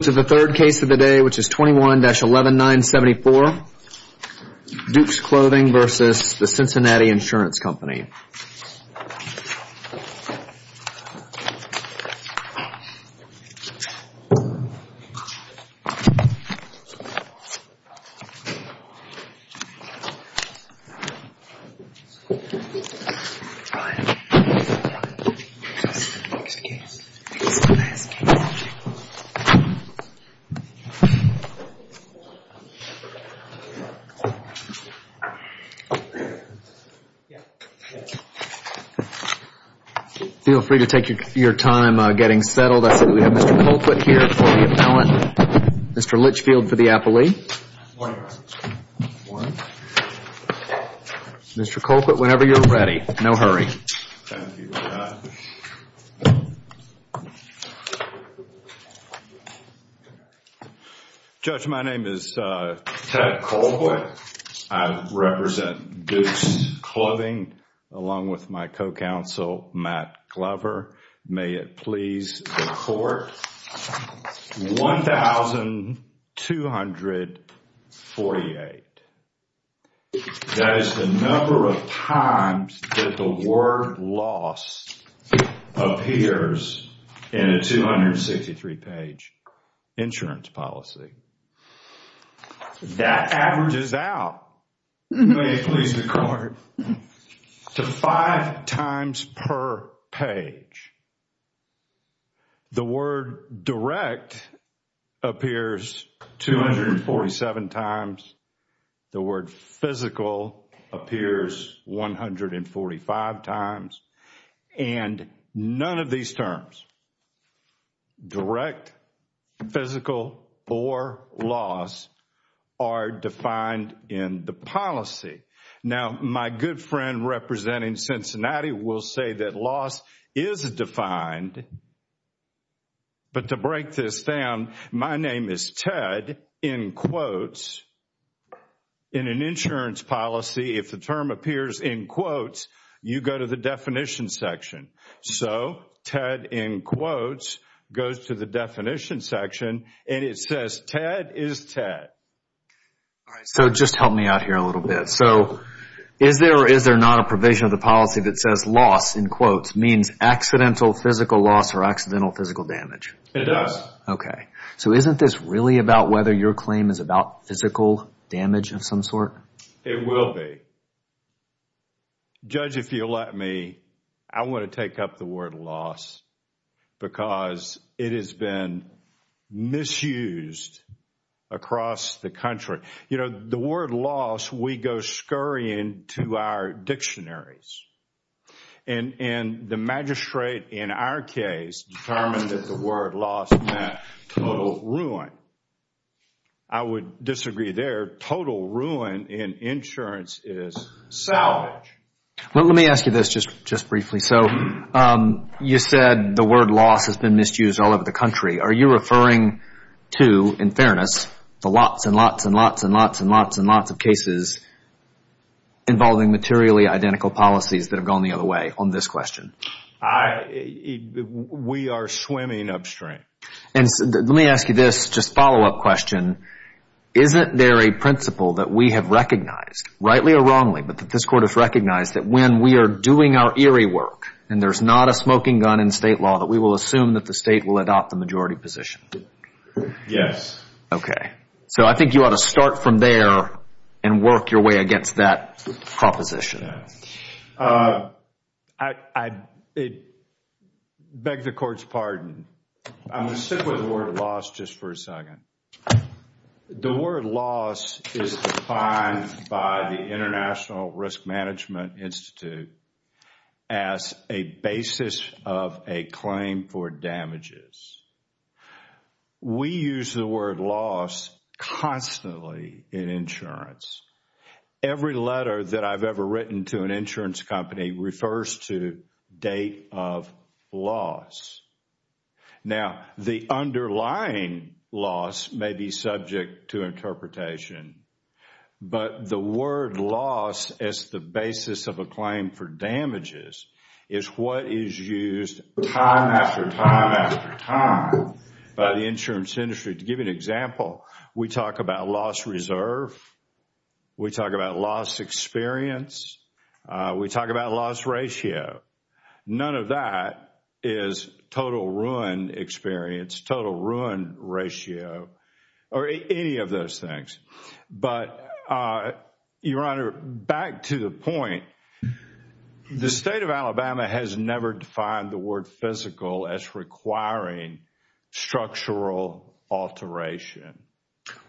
The third case of the day which is 21-11974, Dukes Clothing v. The Cincinnati Insurance Feel free to take your time getting settled. I see we have Mr. Colquitt here for the appellant. Mr. Litchfield for the appellee. Mr. Colquitt, whenever you're ready. No hurry. Judge, my name is Ted Colquitt. I represent Dukes Clothing along with my co-counsel Matt Glover. May it please the court, 1,248. That is the number of times that the word loss appears in a 263 page insurance policy. That averages out, may it please the court, to five times per page. The word direct appears 247 times. The word physical appears 145 times. And none of these terms, direct, physical, or loss, are defined in the policy. Now, my good friend representing Cincinnati will say that loss is defined, but to break this down, my name is Ted, in quotes, in an insurance policy. If the term appears in quotes, you go to the definition section. So, Ted, in quotes, goes to the definition section and it says Ted is Ted. So, just help me out here a little bit. So, is there or is there not a provision of the policy that says loss, in quotes, means accidental physical loss or accidental physical damage? It does. Okay. So, isn't this really about whether your claim is about physical damage of some sort? It will be. Judge, if you'll let me, I want to take up the word loss because it has been misused across the country. You know, the word loss, we go scurrying to our dictionaries. And the magistrate in our case determined that the word loss meant total ruin. I would disagree there. Total ruin in insurance is salvage. Let me ask you this just briefly. So, you said the word loss has been misused all over the country. Are you referring to, in fairness, the lots and lots and lots and lots and lots and lots of cases involving materially identical policies that have gone the other way on this question? We are swimming upstream. Let me ask you this just follow-up question. Isn't there a principle that we have recognized, rightly or wrongly, but that this court has recognized that when we are doing our eerie work and there's not a smoking gun in state law that we will assume that the state will adopt the majority position? Yes. Okay. So, I think you ought to start from there and work your way against that proposition. I beg the court's pardon. I'm going to stick with the word loss just for a second. The word loss is defined by the International Risk Management Institute as a basis of a claim for damages. We use the word loss constantly in insurance. Every letter that I've ever written to an insurance company refers to date of loss. Now, the underlying loss may be subject to interpretation, but the word loss as the basis of a claim for damages is what is used time after time after time by the insurance industry. To give you an example, we talk about loss reserve, we talk about loss experience, we talk about loss ratio. None of that is total ruin experience, total ruin ratio, or any of those things. But, Your Honor, back to the point, the state of Alabama has never defined the word physical as requiring structural alteration.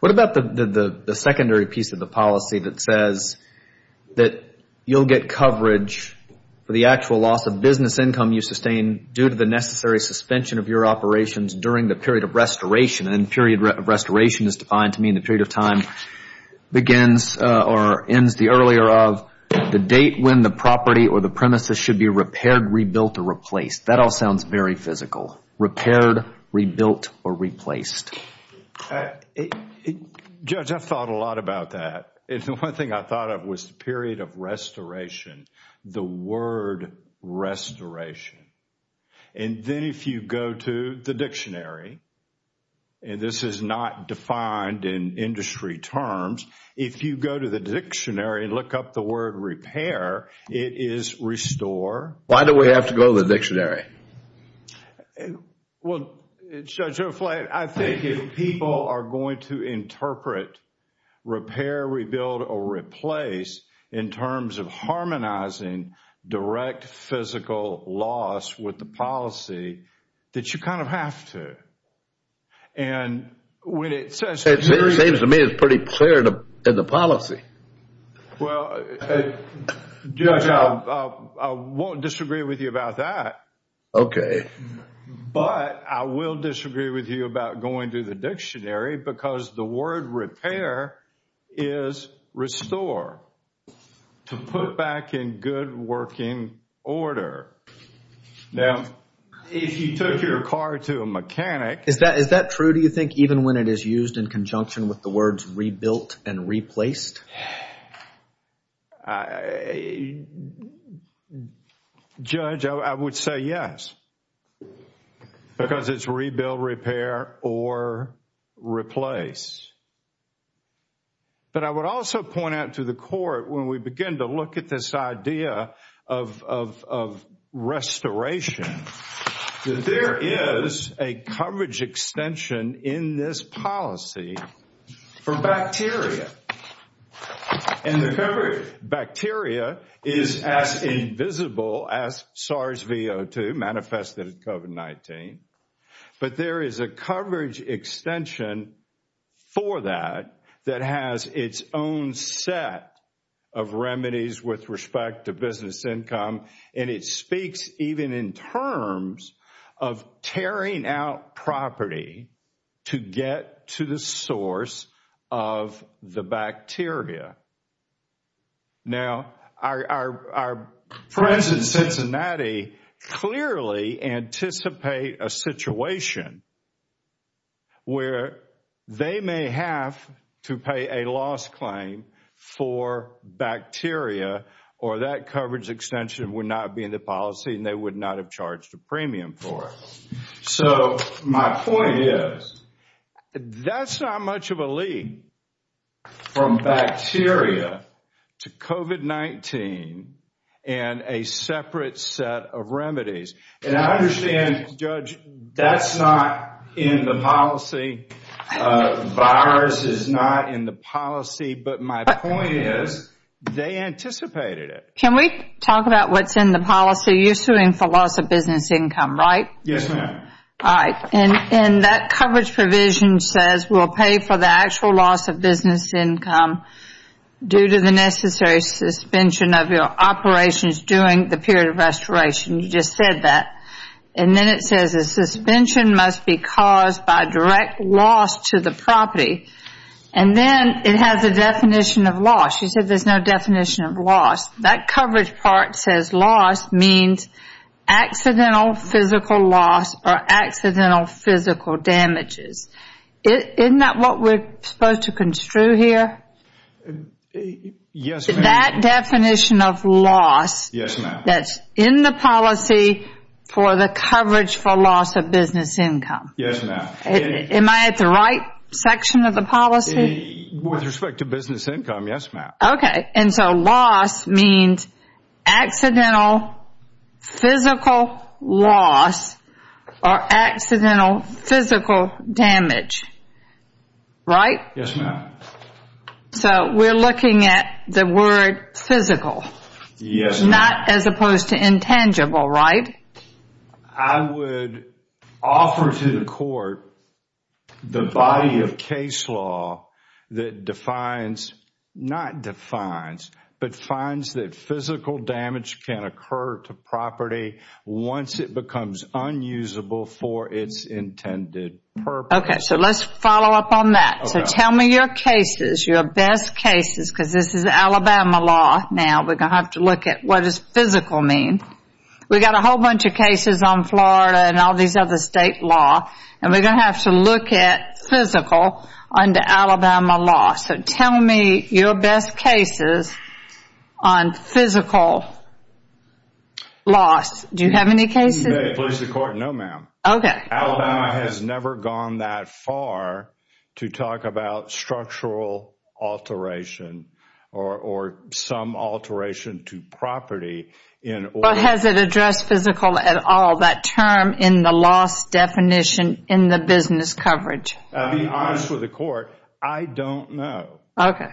What about the secondary piece of the policy that says that you'll get coverage for the actual loss of business income you sustain due to the necessary suspension of your operations during the period of restoration? And period of restoration is defined to mean the period of time begins or ends the earlier of the date when the property or the premises should be repaired, rebuilt, or replaced. That all sounds very physical, repaired, rebuilt, or replaced. Judge, I've thought a lot about that. The one thing I thought of was the period of restoration, the word restoration. And then if you go to the dictionary, and this is not defined in industry terms, if you go to the dictionary and look up the word repair, it is restore. Why do we have to go to the dictionary? Well, Judge O'Flay, I think if people are going to interpret repair, rebuild, or replace in terms of harmonizing direct physical loss with the policy, that you kind of have to. And when it says... It seems to me it's pretty clear in the policy. Well, Judge, I won't disagree with you about that. Okay. But I will disagree with you about going to the dictionary because the word repair is restore, to put it back in good working order. Now, if you took your car to a mechanic... Is that true, do you think, even when it is used in conjunction with the words rebuilt and replaced? Judge, I would say yes. Because it's rebuild, repair, or replace. But I would also point out to the court when we begin to look at this idea of restoration, that there is a coverage extension in this policy for bacteria. And the coverage of bacteria is as invisible as SARS-CoV-2 manifested in COVID-19. But there is a coverage extension for that that has its own set of remedies with respect to business income. And it speaks even in terms of tearing out property to get to the source of the bacteria. Now, our friends in Cincinnati clearly anticipate a situation where they may have to pay a loss claim for bacteria or that coverage extension would not be in the policy and they would not have charged a premium for it. So, my point is, that's not much of a leap from bacteria to COVID-19 and a separate set of remedies. And I understand, Judge, that's not in the policy. Virus is not in the policy. But my point is, they anticipated it. Can we talk about what's in the policy? You're suing for loss of business income, right? Yes, ma'am. All right. And that coverage provision says we'll pay for the actual loss of business income due to the necessary suspension of your operations during the period of restoration. You just said that. And then it says a suspension must be caused by direct loss to the property. And then it has a definition of loss. You said there's no definition of loss. That coverage part says loss means accidental physical loss or accidental physical damages. Isn't that what we're supposed to construe here? Yes, ma'am. That definition of loss that's in the policy for the coverage for loss of business income. Yes, ma'am. Am I at the right section of the policy? With respect to business income, yes, ma'am. Okay. And so loss means accidental physical loss or accidental physical damage. Right? Yes, ma'am. So we're looking at the word physical. Yes, ma'am. Not as opposed to intangible, right? I would offer to the court the body of case law that defines, not defines, but finds that physical damage can occur to property once it becomes unusable for its intended purpose. Okay. So let's follow up on that. So tell me your cases, your best cases, because this is Alabama law now. We're going to have to look at what does physical mean. We've got a whole bunch of cases on Florida and all these other state law, and we're going to have to look at physical under Alabama law. So tell me your best cases on physical loss. Do you have any cases? No, ma'am. Okay. Alabama has never gone that far to talk about structural alteration or some alteration to property in order to Has it addressed physical at all, that term in the loss definition in the business coverage? To be honest with the court, I don't know. Okay.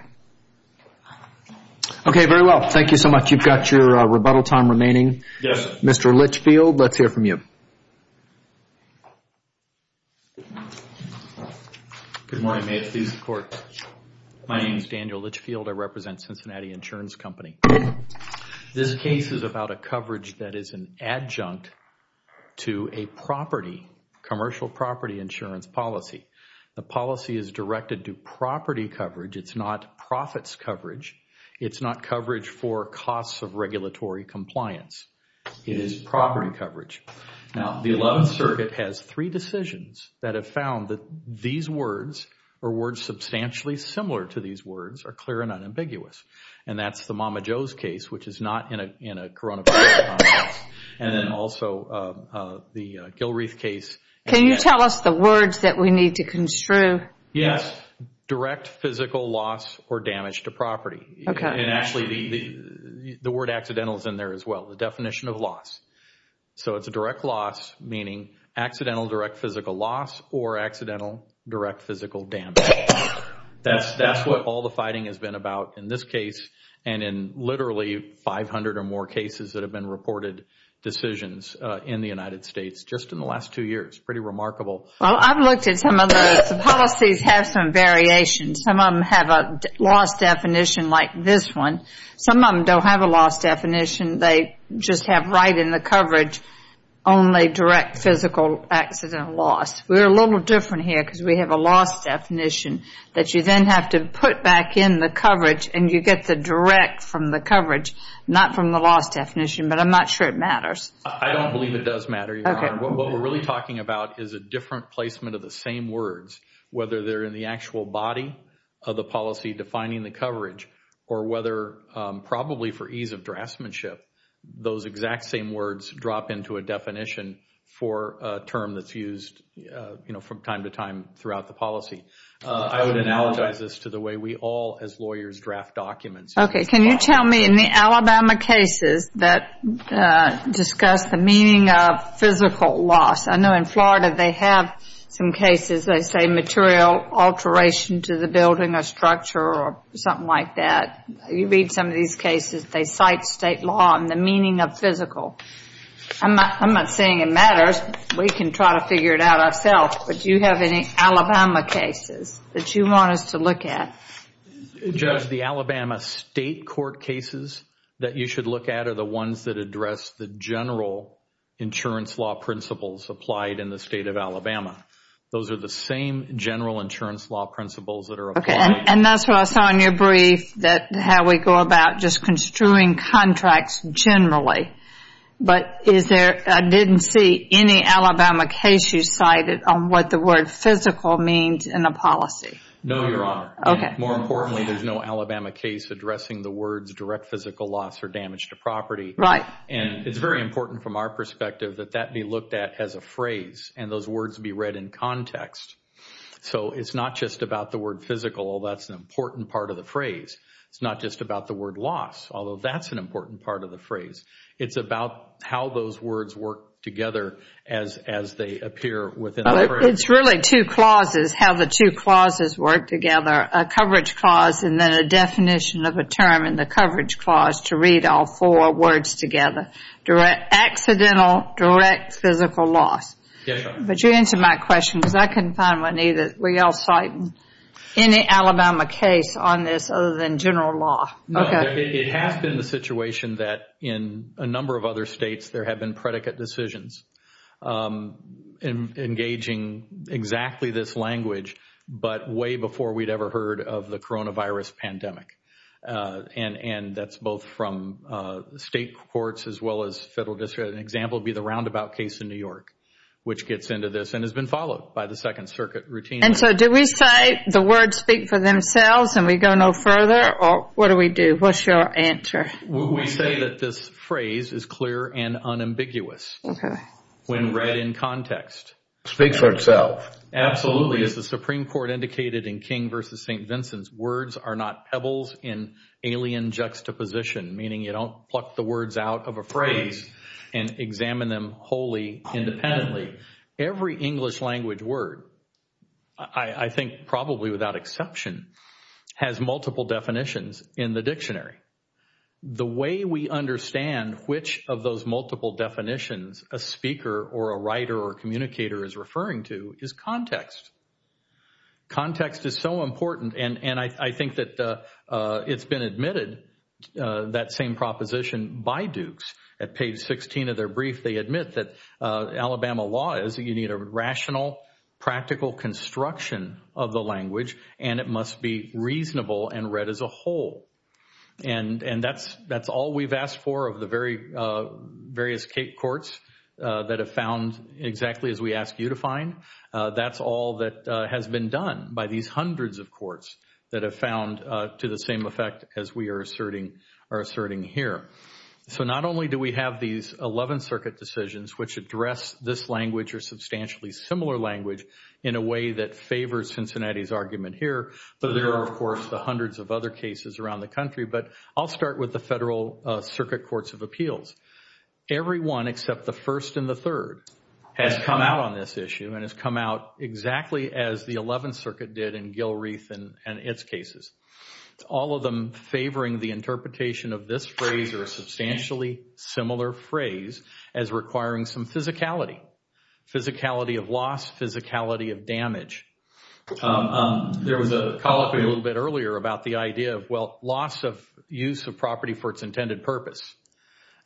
Okay, very well. Thank you so much. You've got your rebuttal time remaining. Yes, sir. Mr. Litchfield, let's hear from you. Good morning. May it please the Court. My name is Daniel Litchfield. I represent Cincinnati Insurance Company. This case is about a coverage that is an adjunct to a property, commercial property insurance policy. The policy is directed to property coverage. It's not profits coverage. It's not coverage for costs of regulatory compliance. It is property coverage. Now, the 11th Circuit has three decisions that have found that these words or words substantially similar to these words are clear and unambiguous. And that's the Mama Jo's case, which is not in a coronavirus context, and then also the Gilreath case. Can you tell us the words that we need to construe? Yes, direct physical loss or damage to property. And actually the word accidental is in there as well, the definition of loss. So it's a direct loss, meaning accidental direct physical loss or accidental direct physical damage. That's what all the fighting has been about in this case and in literally 500 or more cases that have been reported decisions in the United States just in the last two years. Pretty remarkable. Well, I've looked at some of the policies have some variations. Some of them have a loss definition like this one. Some of them don't have a loss definition. They just have right in the coverage only direct physical accident loss. We're a little different here because we have a loss definition that you then have to put back in the coverage and you get the direct from the coverage, not from the loss definition. But I'm not sure it matters. I don't believe it does matter, Your Honor. What we're really talking about is a different placement of the same words, whether they're in the actual body of the policy defining the coverage or whether probably for ease of draftsmanship, those exact same words drop into a definition for a term that's used, you know, from time to time throughout the policy. I would analogize this to the way we all as lawyers draft documents. Okay. Can you tell me in the Alabama cases that discuss the meaning of physical loss, I know in Florida they have some cases they say material alteration to the building or structure or something like that. You read some of these cases, they cite state law and the meaning of physical. I'm not saying it matters. We can try to figure it out ourselves. But do you have any Alabama cases that you want us to look at? Judge, the Alabama state court cases that you should look at are the ones that address the general insurance law principles applied in the state of Alabama. Those are the same general insurance law principles that are applied. And that's what I saw in your brief, how we go about just construing contracts generally. But I didn't see any Alabama case you cited on what the word physical means in a policy. No, Your Honor. Okay. More importantly, there's no Alabama case addressing the words direct physical loss or damage to property. Right. And it's very important from our perspective that that be looked at as a phrase and those words be read in context. So it's not just about the word physical. That's an important part of the phrase. It's not just about the word loss, although that's an important part of the phrase. It's about how those words work together as they appear within the phrase. It's really two clauses, how the two clauses work together, a coverage clause and then a definition of a term in the coverage clause to read all four words together, direct accidental, direct physical loss. Yes, Your Honor. But you answered my question because I couldn't find one either. Were you all citing any Alabama case on this other than general law? No. It has been the situation that in a number of other states there have been predicate decisions engaging exactly this language but way before we'd ever heard of the coronavirus pandemic. And that's both from state courts as well as federal district. An example would be the Roundabout case in New York, which gets into this and has been followed by the Second Circuit routine. And so do we say the words speak for themselves and we go no further or what do we do? What's your answer? We say that this phrase is clear and unambiguous when read in context. Speaks for itself. Absolutely. As the Supreme Court indicated in King v. St. Vincent's, words are not pebbles in alien juxtaposition, meaning you don't pluck the words out of a phrase and examine them wholly independently. Every English language word, I think probably without exception, has multiple definitions in the dictionary. The way we understand which of those multiple definitions a speaker or a writer or communicator is referring to is context. Context is so important. And I think that it's been admitted, that same proposition by Dukes. At page 16 of their brief, they admit that Alabama law is that you need a rational, practical construction of the language and it must be reasonable and read as a whole. And that's all we've asked for of the various courts that have found exactly as we asked you to find. That's all that has been done by these hundreds of courts that have found to the same effect as we are asserting here. So not only do we have these 11th Circuit decisions which address this language or substantially similar language in a way that favors Cincinnati's argument here, but there are, of course, the hundreds of other cases around the country. But I'll start with the Federal Circuit Courts of Appeals. Everyone except the first and the third has come out on this issue and has come out exactly as the 11th Circuit did in Gilreath and its cases. All of them favoring the interpretation of this phrase or a substantially similar phrase as requiring some physicality, physicality of loss, physicality of damage. There was a call up a little bit earlier about the idea of, well, loss of use of property for its intended purpose.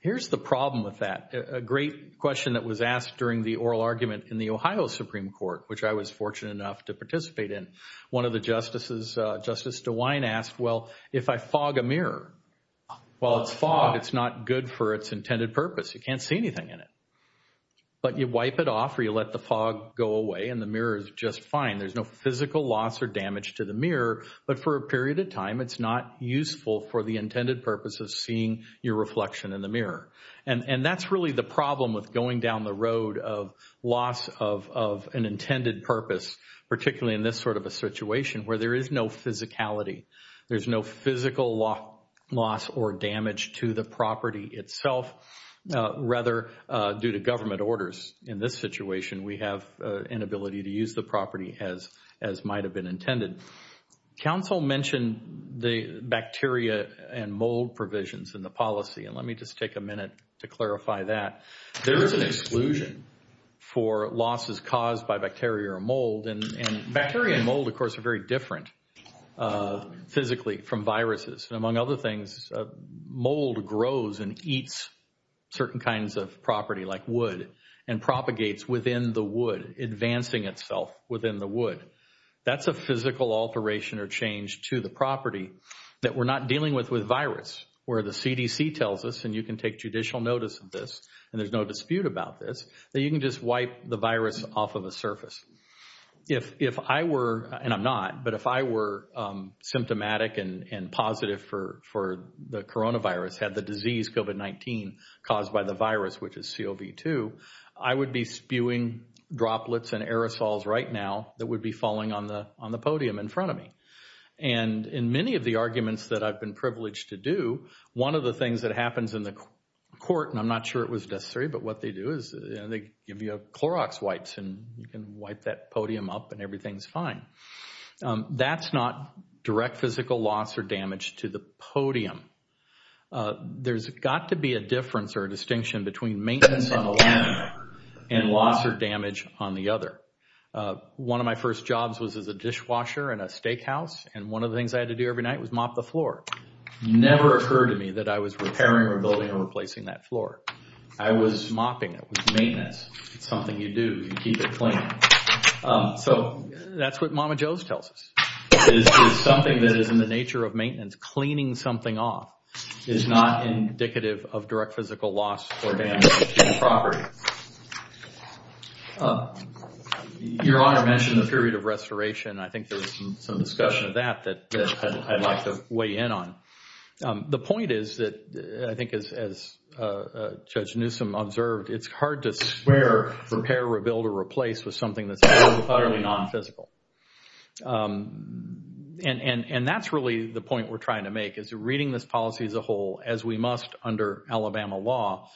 Here's the problem with that. A great question that was asked during the oral argument in the Ohio Supreme Court, which I was fortunate enough to participate in. One of the justices, Justice DeWine, asked, well, if I fog a mirror, well, it's fog, it's not good for its intended purpose. You can't see anything in it. But you wipe it off or you let the fog go away and the mirror is just fine. There's no physical loss or damage to the mirror, but for a period of time, it's not useful for the intended purpose of seeing your reflection in the mirror. And that's really the problem with going down the road of loss of an intended purpose, particularly in this sort of a situation where there is no physicality. There's no physical loss or damage to the property itself. Rather, due to government orders in this situation, we have an ability to use the property as might have been intended. Council mentioned the bacteria and mold provisions in the policy, and let me just take a minute to clarify that. There is an exclusion for losses caused by bacteria or mold, and bacteria and mold, of course, are very different physically from viruses. Among other things, mold grows and eats certain kinds of property like wood and propagates within the wood, advancing itself within the wood. That's a physical alteration or change to the property that we're not dealing with with virus, where the CDC tells us, and you can take judicial notice of this, and there's no dispute about this, that you can just wipe the virus off of a surface. If I were, and I'm not, but if I were symptomatic and positive for the coronavirus, had the disease COVID-19 caused by the virus, which is COV-2, I would be spewing droplets and aerosols right now that would be falling on the podium in front of me. And in many of the arguments that I've been privileged to do, one of the things that happens in the court, and I'm not sure it was necessary, but what they do is they give you Clorox wipes and you can wipe that podium up and everything's fine. That's not direct physical loss or damage to the podium. There's got to be a difference or a distinction between maintenance on the one and loss or damage on the other. One of my first jobs was as a dishwasher in a steakhouse, and one of the things I had to do every night was mop the floor. It never occurred to me that I was repairing or building or replacing that floor. I was mopping. It was maintenance. It's something you do. You keep it clean. So that's what Mama Jo's tells us. It's something that is in the nature of maintenance. Cleaning something off is not indicative of direct physical loss or damage to the property. Your Honor mentioned the period of restoration. I think there's some discussion of that that I'd like to weigh in on. The point is that I think as Judge Newsom observed, it's hard to square repair, rebuild, or replace with something that's utterly non-physical. That's really the point we're trying to make. Reading this policy as a whole, as we must under Alabama law,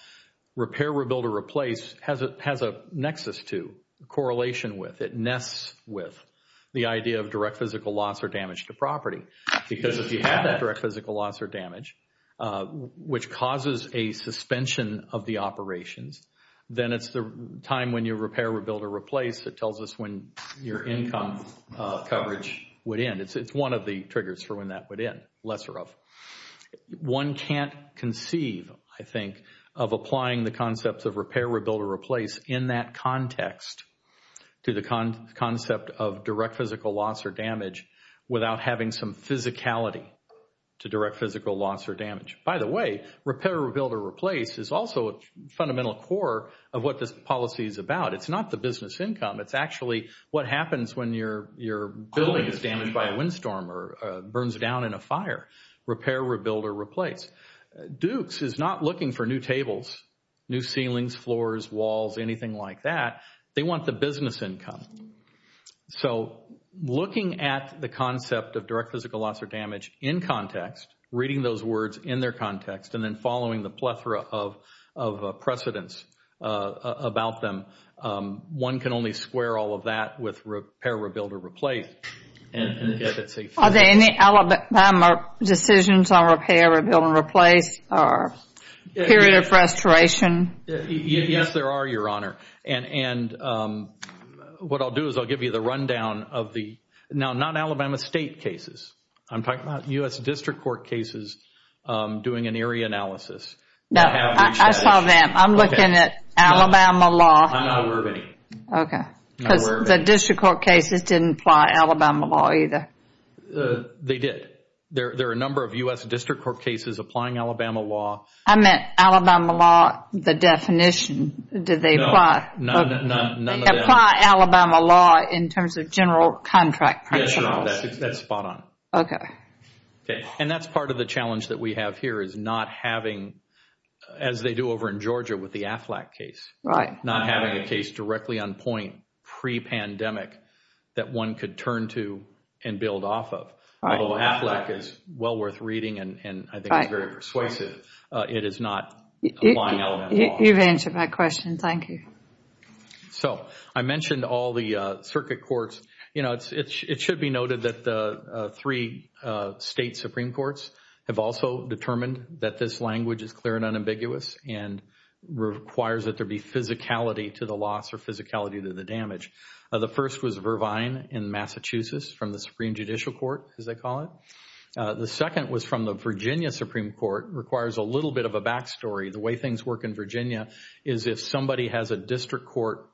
repair, rebuild, or replace has a nexus to, a correlation with, it nests with the idea of direct physical loss or damage to property. Because if you have that direct physical loss or damage, which causes a suspension of the operations, then it's the time when you repair, rebuild, or replace that tells us when your income coverage would end. It's one of the triggers for when that would end, lesser of. One can't conceive, I think, of applying the concepts of repair, rebuild, or replace in that context to the concept of direct physical loss or damage without having some physicality to direct physical loss or damage. By the way, repair, rebuild, or replace is also a fundamental core of what this policy is about. It's not the business income. It's actually what happens when your building is damaged by a windstorm or burns down in a fire. Repair, rebuild, or replace. Dukes is not looking for new tables, new ceilings, floors, walls, anything like that. They want the business income. So looking at the concept of direct physical loss or damage in context, reading those words in their context, and then following the plethora of precedents about them, one can only square all of that with repair, rebuild, or replace. Are there any Alabama decisions on repair, rebuild, or replace or period of restoration? Yes, there are, Your Honor. And what I'll do is I'll give you the rundown of the now not Alabama State cases. I'm talking about U.S. District Court cases doing an area analysis. No, I saw them. I'm looking at Alabama law. I'm not aware of any. Okay. Because the District Court cases didn't apply Alabama law either. They did. There are a number of U.S. District Court cases applying Alabama law. I meant Alabama law, the definition. Did they apply? No, none of that. Apply Alabama law in terms of general contract principles. Yes, Your Honor, that's spot on. Okay. And that's part of the challenge that we have here is not having, as they do over in Georgia with the Aflac case, not having a case directly on point pre-pandemic that one could turn to and build off of. Although Aflac is well worth reading and I think is very persuasive, it is not applying Alabama law. You've answered my question. Thank you. So I mentioned all the circuit courts. You know, it should be noted that the three state Supreme Courts have also determined that this language is clear and unambiguous and requires that there be physicality to the loss or physicality to the damage. The first was Vervine in Massachusetts from the Supreme Judicial Court, as they call it. The second was from the Virginia Supreme Court. It requires a little bit of a back story. The way things work in Virginia is if somebody has a District Court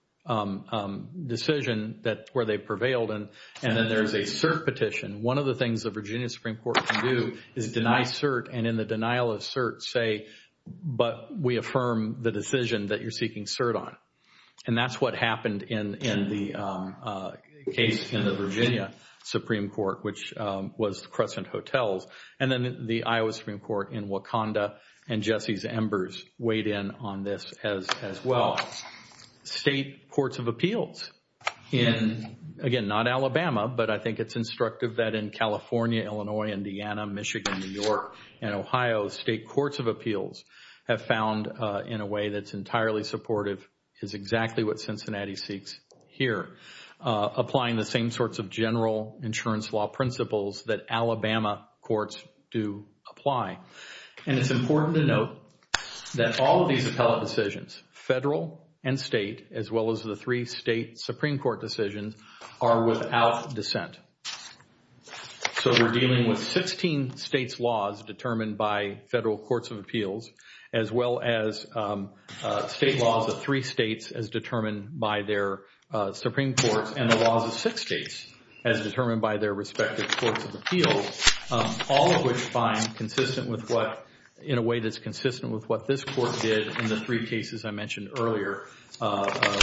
decision where they prevailed and then there's a cert petition, one of the things the Virginia Supreme Court can do is deny cert and in the denial of cert say, but we affirm the decision that you're seeking cert on. And that's what happened in the case in the Virginia Supreme Court, which was the Crescent Hotels. And then the Iowa Supreme Court in Wakanda and Jesse's embers weighed in on this as well. State courts of appeals in, again, not Alabama, but I think it's instructive that in California, Illinois, Indiana, Michigan, New York, and Ohio, state courts of appeals have found in a way that's entirely supportive is exactly what Cincinnati seeks here, applying the same sorts of general insurance law principles that Alabama courts do apply. And it's important to note that all of these appellate decisions, federal and state, as well as the three state Supreme Court decisions, are without dissent. So we're dealing with 16 states' laws determined by federal courts of appeals as well as state laws of three states as determined by their Supreme Courts and the laws of six states as determined by their respective courts of appeals, all of which find consistent with what, in a way that's consistent with what this court did in the three cases I mentioned earlier,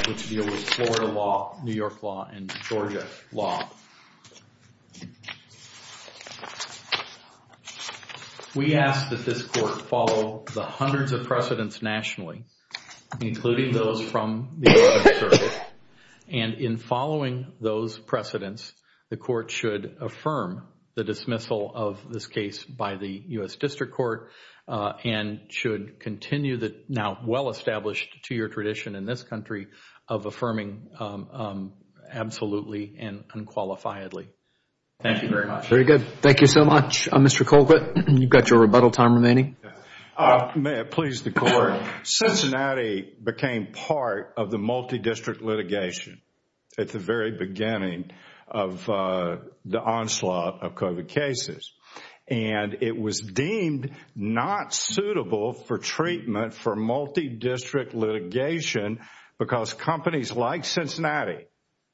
which deal with Florida law, New York law, and Georgia law. We ask that this court follow the hundreds of precedents nationally, including those from the Oregon Circuit. And in following those precedents, the court should affirm the dismissal of this case by the U.S. District Court and should continue the now well-established two-year tradition in this country of affirming absolutely and unqualifiedly. Thank you very much. Very good. Thank you so much. Mr. Colquitt, you've got your rebuttal time remaining. May it please the Court. Cincinnati became part of the multidistrict litigation at the very beginning of the onslaught of COVID cases. And it was deemed not suitable for treatment for multidistrict litigation because companies like Cincinnati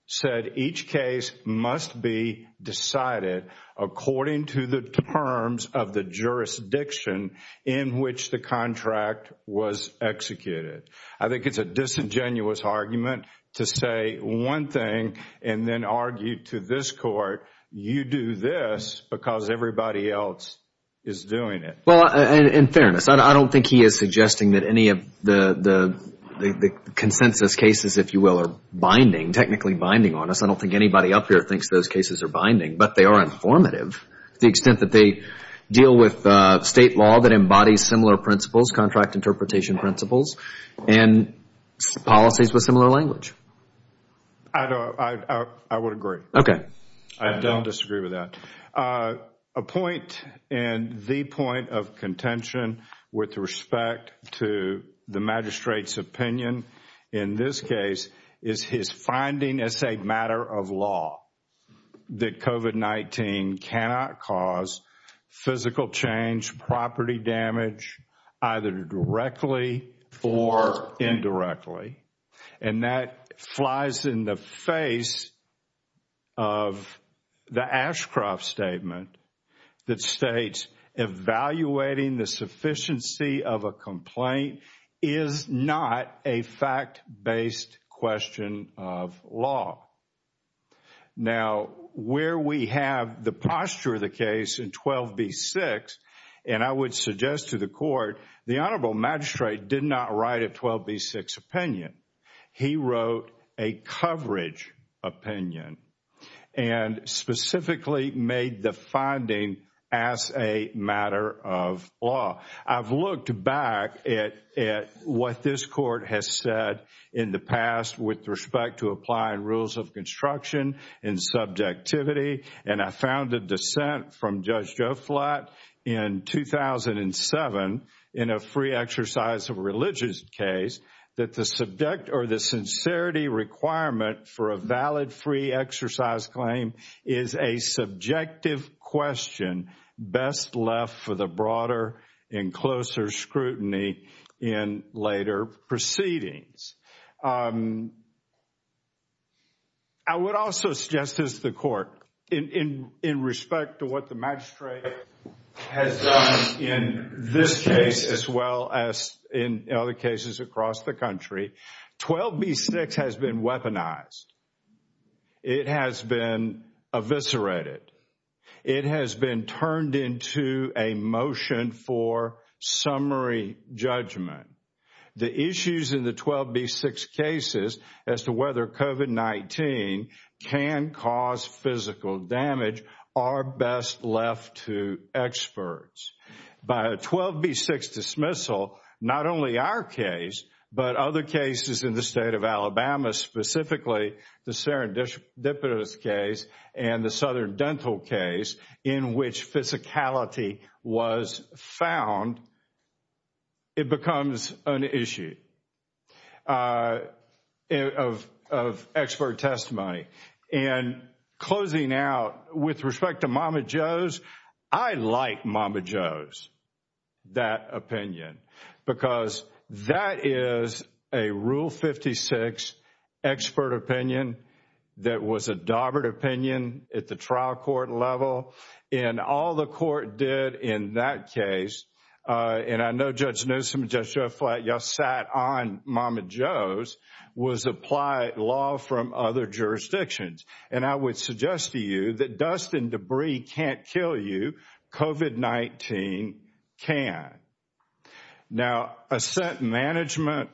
said each case must be decided according to the terms of the jurisdiction in which the contract was executed. I think it's a disingenuous argument to say one thing and then argue to this court, you do this because everybody else is doing it. Well, in fairness, I don't think he is suggesting that any of the consensus cases, if you will, are binding, technically binding on us. I don't think anybody up here thinks those cases are binding, but they are informative to the extent that they deal with state law that embodies similar principles, contract interpretation principles, and policies with similar language. I would agree. Okay. I don't disagree with that. A point and the point of contention with respect to the magistrate's opinion in this case is his finding as a matter of law that COVID-19 cannot cause physical change, property damage, either directly or indirectly. And that flies in the face of the Ashcroft statement that states, evaluating the sufficiency of a complaint is not a fact-based question of law. Now, where we have the posture of the case in 12b-6, and I would suggest to the court, the honorable magistrate did not write a 12b-6 opinion. He wrote a coverage opinion and specifically made the finding as a matter of law. I've looked back at what this court has said in the past with respect to applying rules of construction and subjectivity, and I found a dissent from Judge Joflat in 2007 in a free exercise of religious case that the subject or the sincerity requirement for a valid free exercise claim is a subjective question best left for the broader and closer scrutiny in later proceedings. I would also suggest to the court, in respect to what the magistrate has done in this case as well as in other cases across the country, 12b-6 has been weaponized. It has been eviscerated. It has been turned into a motion for summary judgment. The issues in the 12b-6 cases as to whether COVID-19 can cause physical damage are best left to experts. By a 12b-6 dismissal, not only our case, but other cases in the state of Alabama, specifically the Serendipitous case and the Southern Dental case in which physicality was found, it becomes an issue of expert testimony. And closing out, with respect to Mama Jo's, I like Mama Jo's, that opinion, because that is a Rule 56 expert opinion that was a daubered opinion at the trial court level, and all the court did in that case, and I know Judge Newsom and Judge Joe Flatt, y'all sat on Mama Jo's, was apply law from other jurisdictions. And I would suggest to you that dust and debris can't kill you. COVID-19 can. Now, assent management,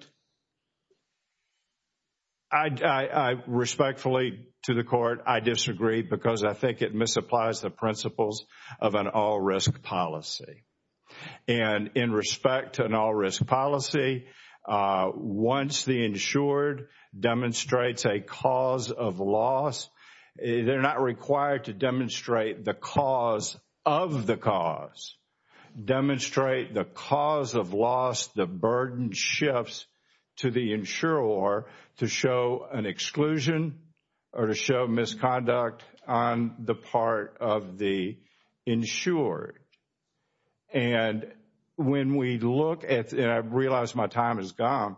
I respectfully, to the court, I disagree because I think it misapplies the principles of an all-risk policy. And in respect to an all-risk policy, once the insured demonstrates a cause of loss, they're not required to demonstrate the cause of the cause. Demonstrate the cause of loss, the burden shifts to the insurer to show an exclusion or to show misconduct on the part of the insured. And when we look at, and I realize my time is gone,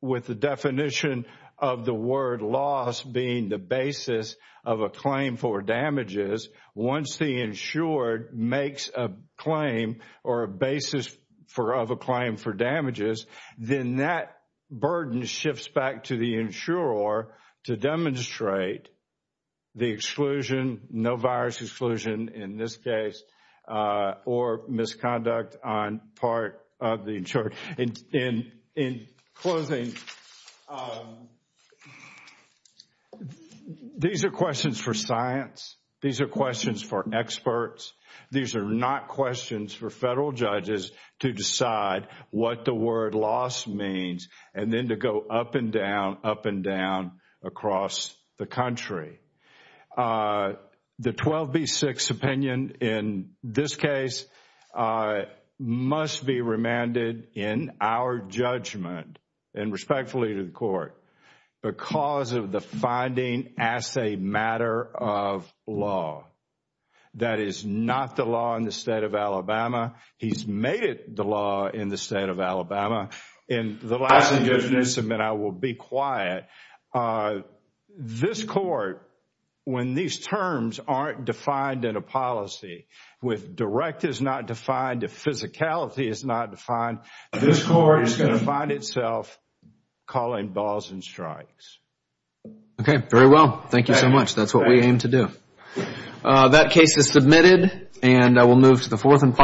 with the definition of the word loss being the basis of a claim for damages, once the insured makes a claim or a basis of a claim for damages, then that burden shifts back to the insurer to demonstrate the exclusion, no virus exclusion in this case, or misconduct on part of the insured. In closing, these are questions for science. These are questions for experts. These are not questions for federal judges to decide what the word loss means and then to go up and down, up and down across the country. The 12B6 opinion in this case must be remanded in our judgment, and respectfully to the court, because of the finding as a matter of law. That is not the law in the state of Alabama. He's made it the law in the state of Alabama. And the last thing is, and I will be quiet, this court, when these terms aren't defined in a policy, with direct is not defined, physicality is not defined, this court is going to find itself calling balls and strikes. Okay, very well. Thank you so much. That's what we aim to do. That case is submitted, and I will move to the fourth.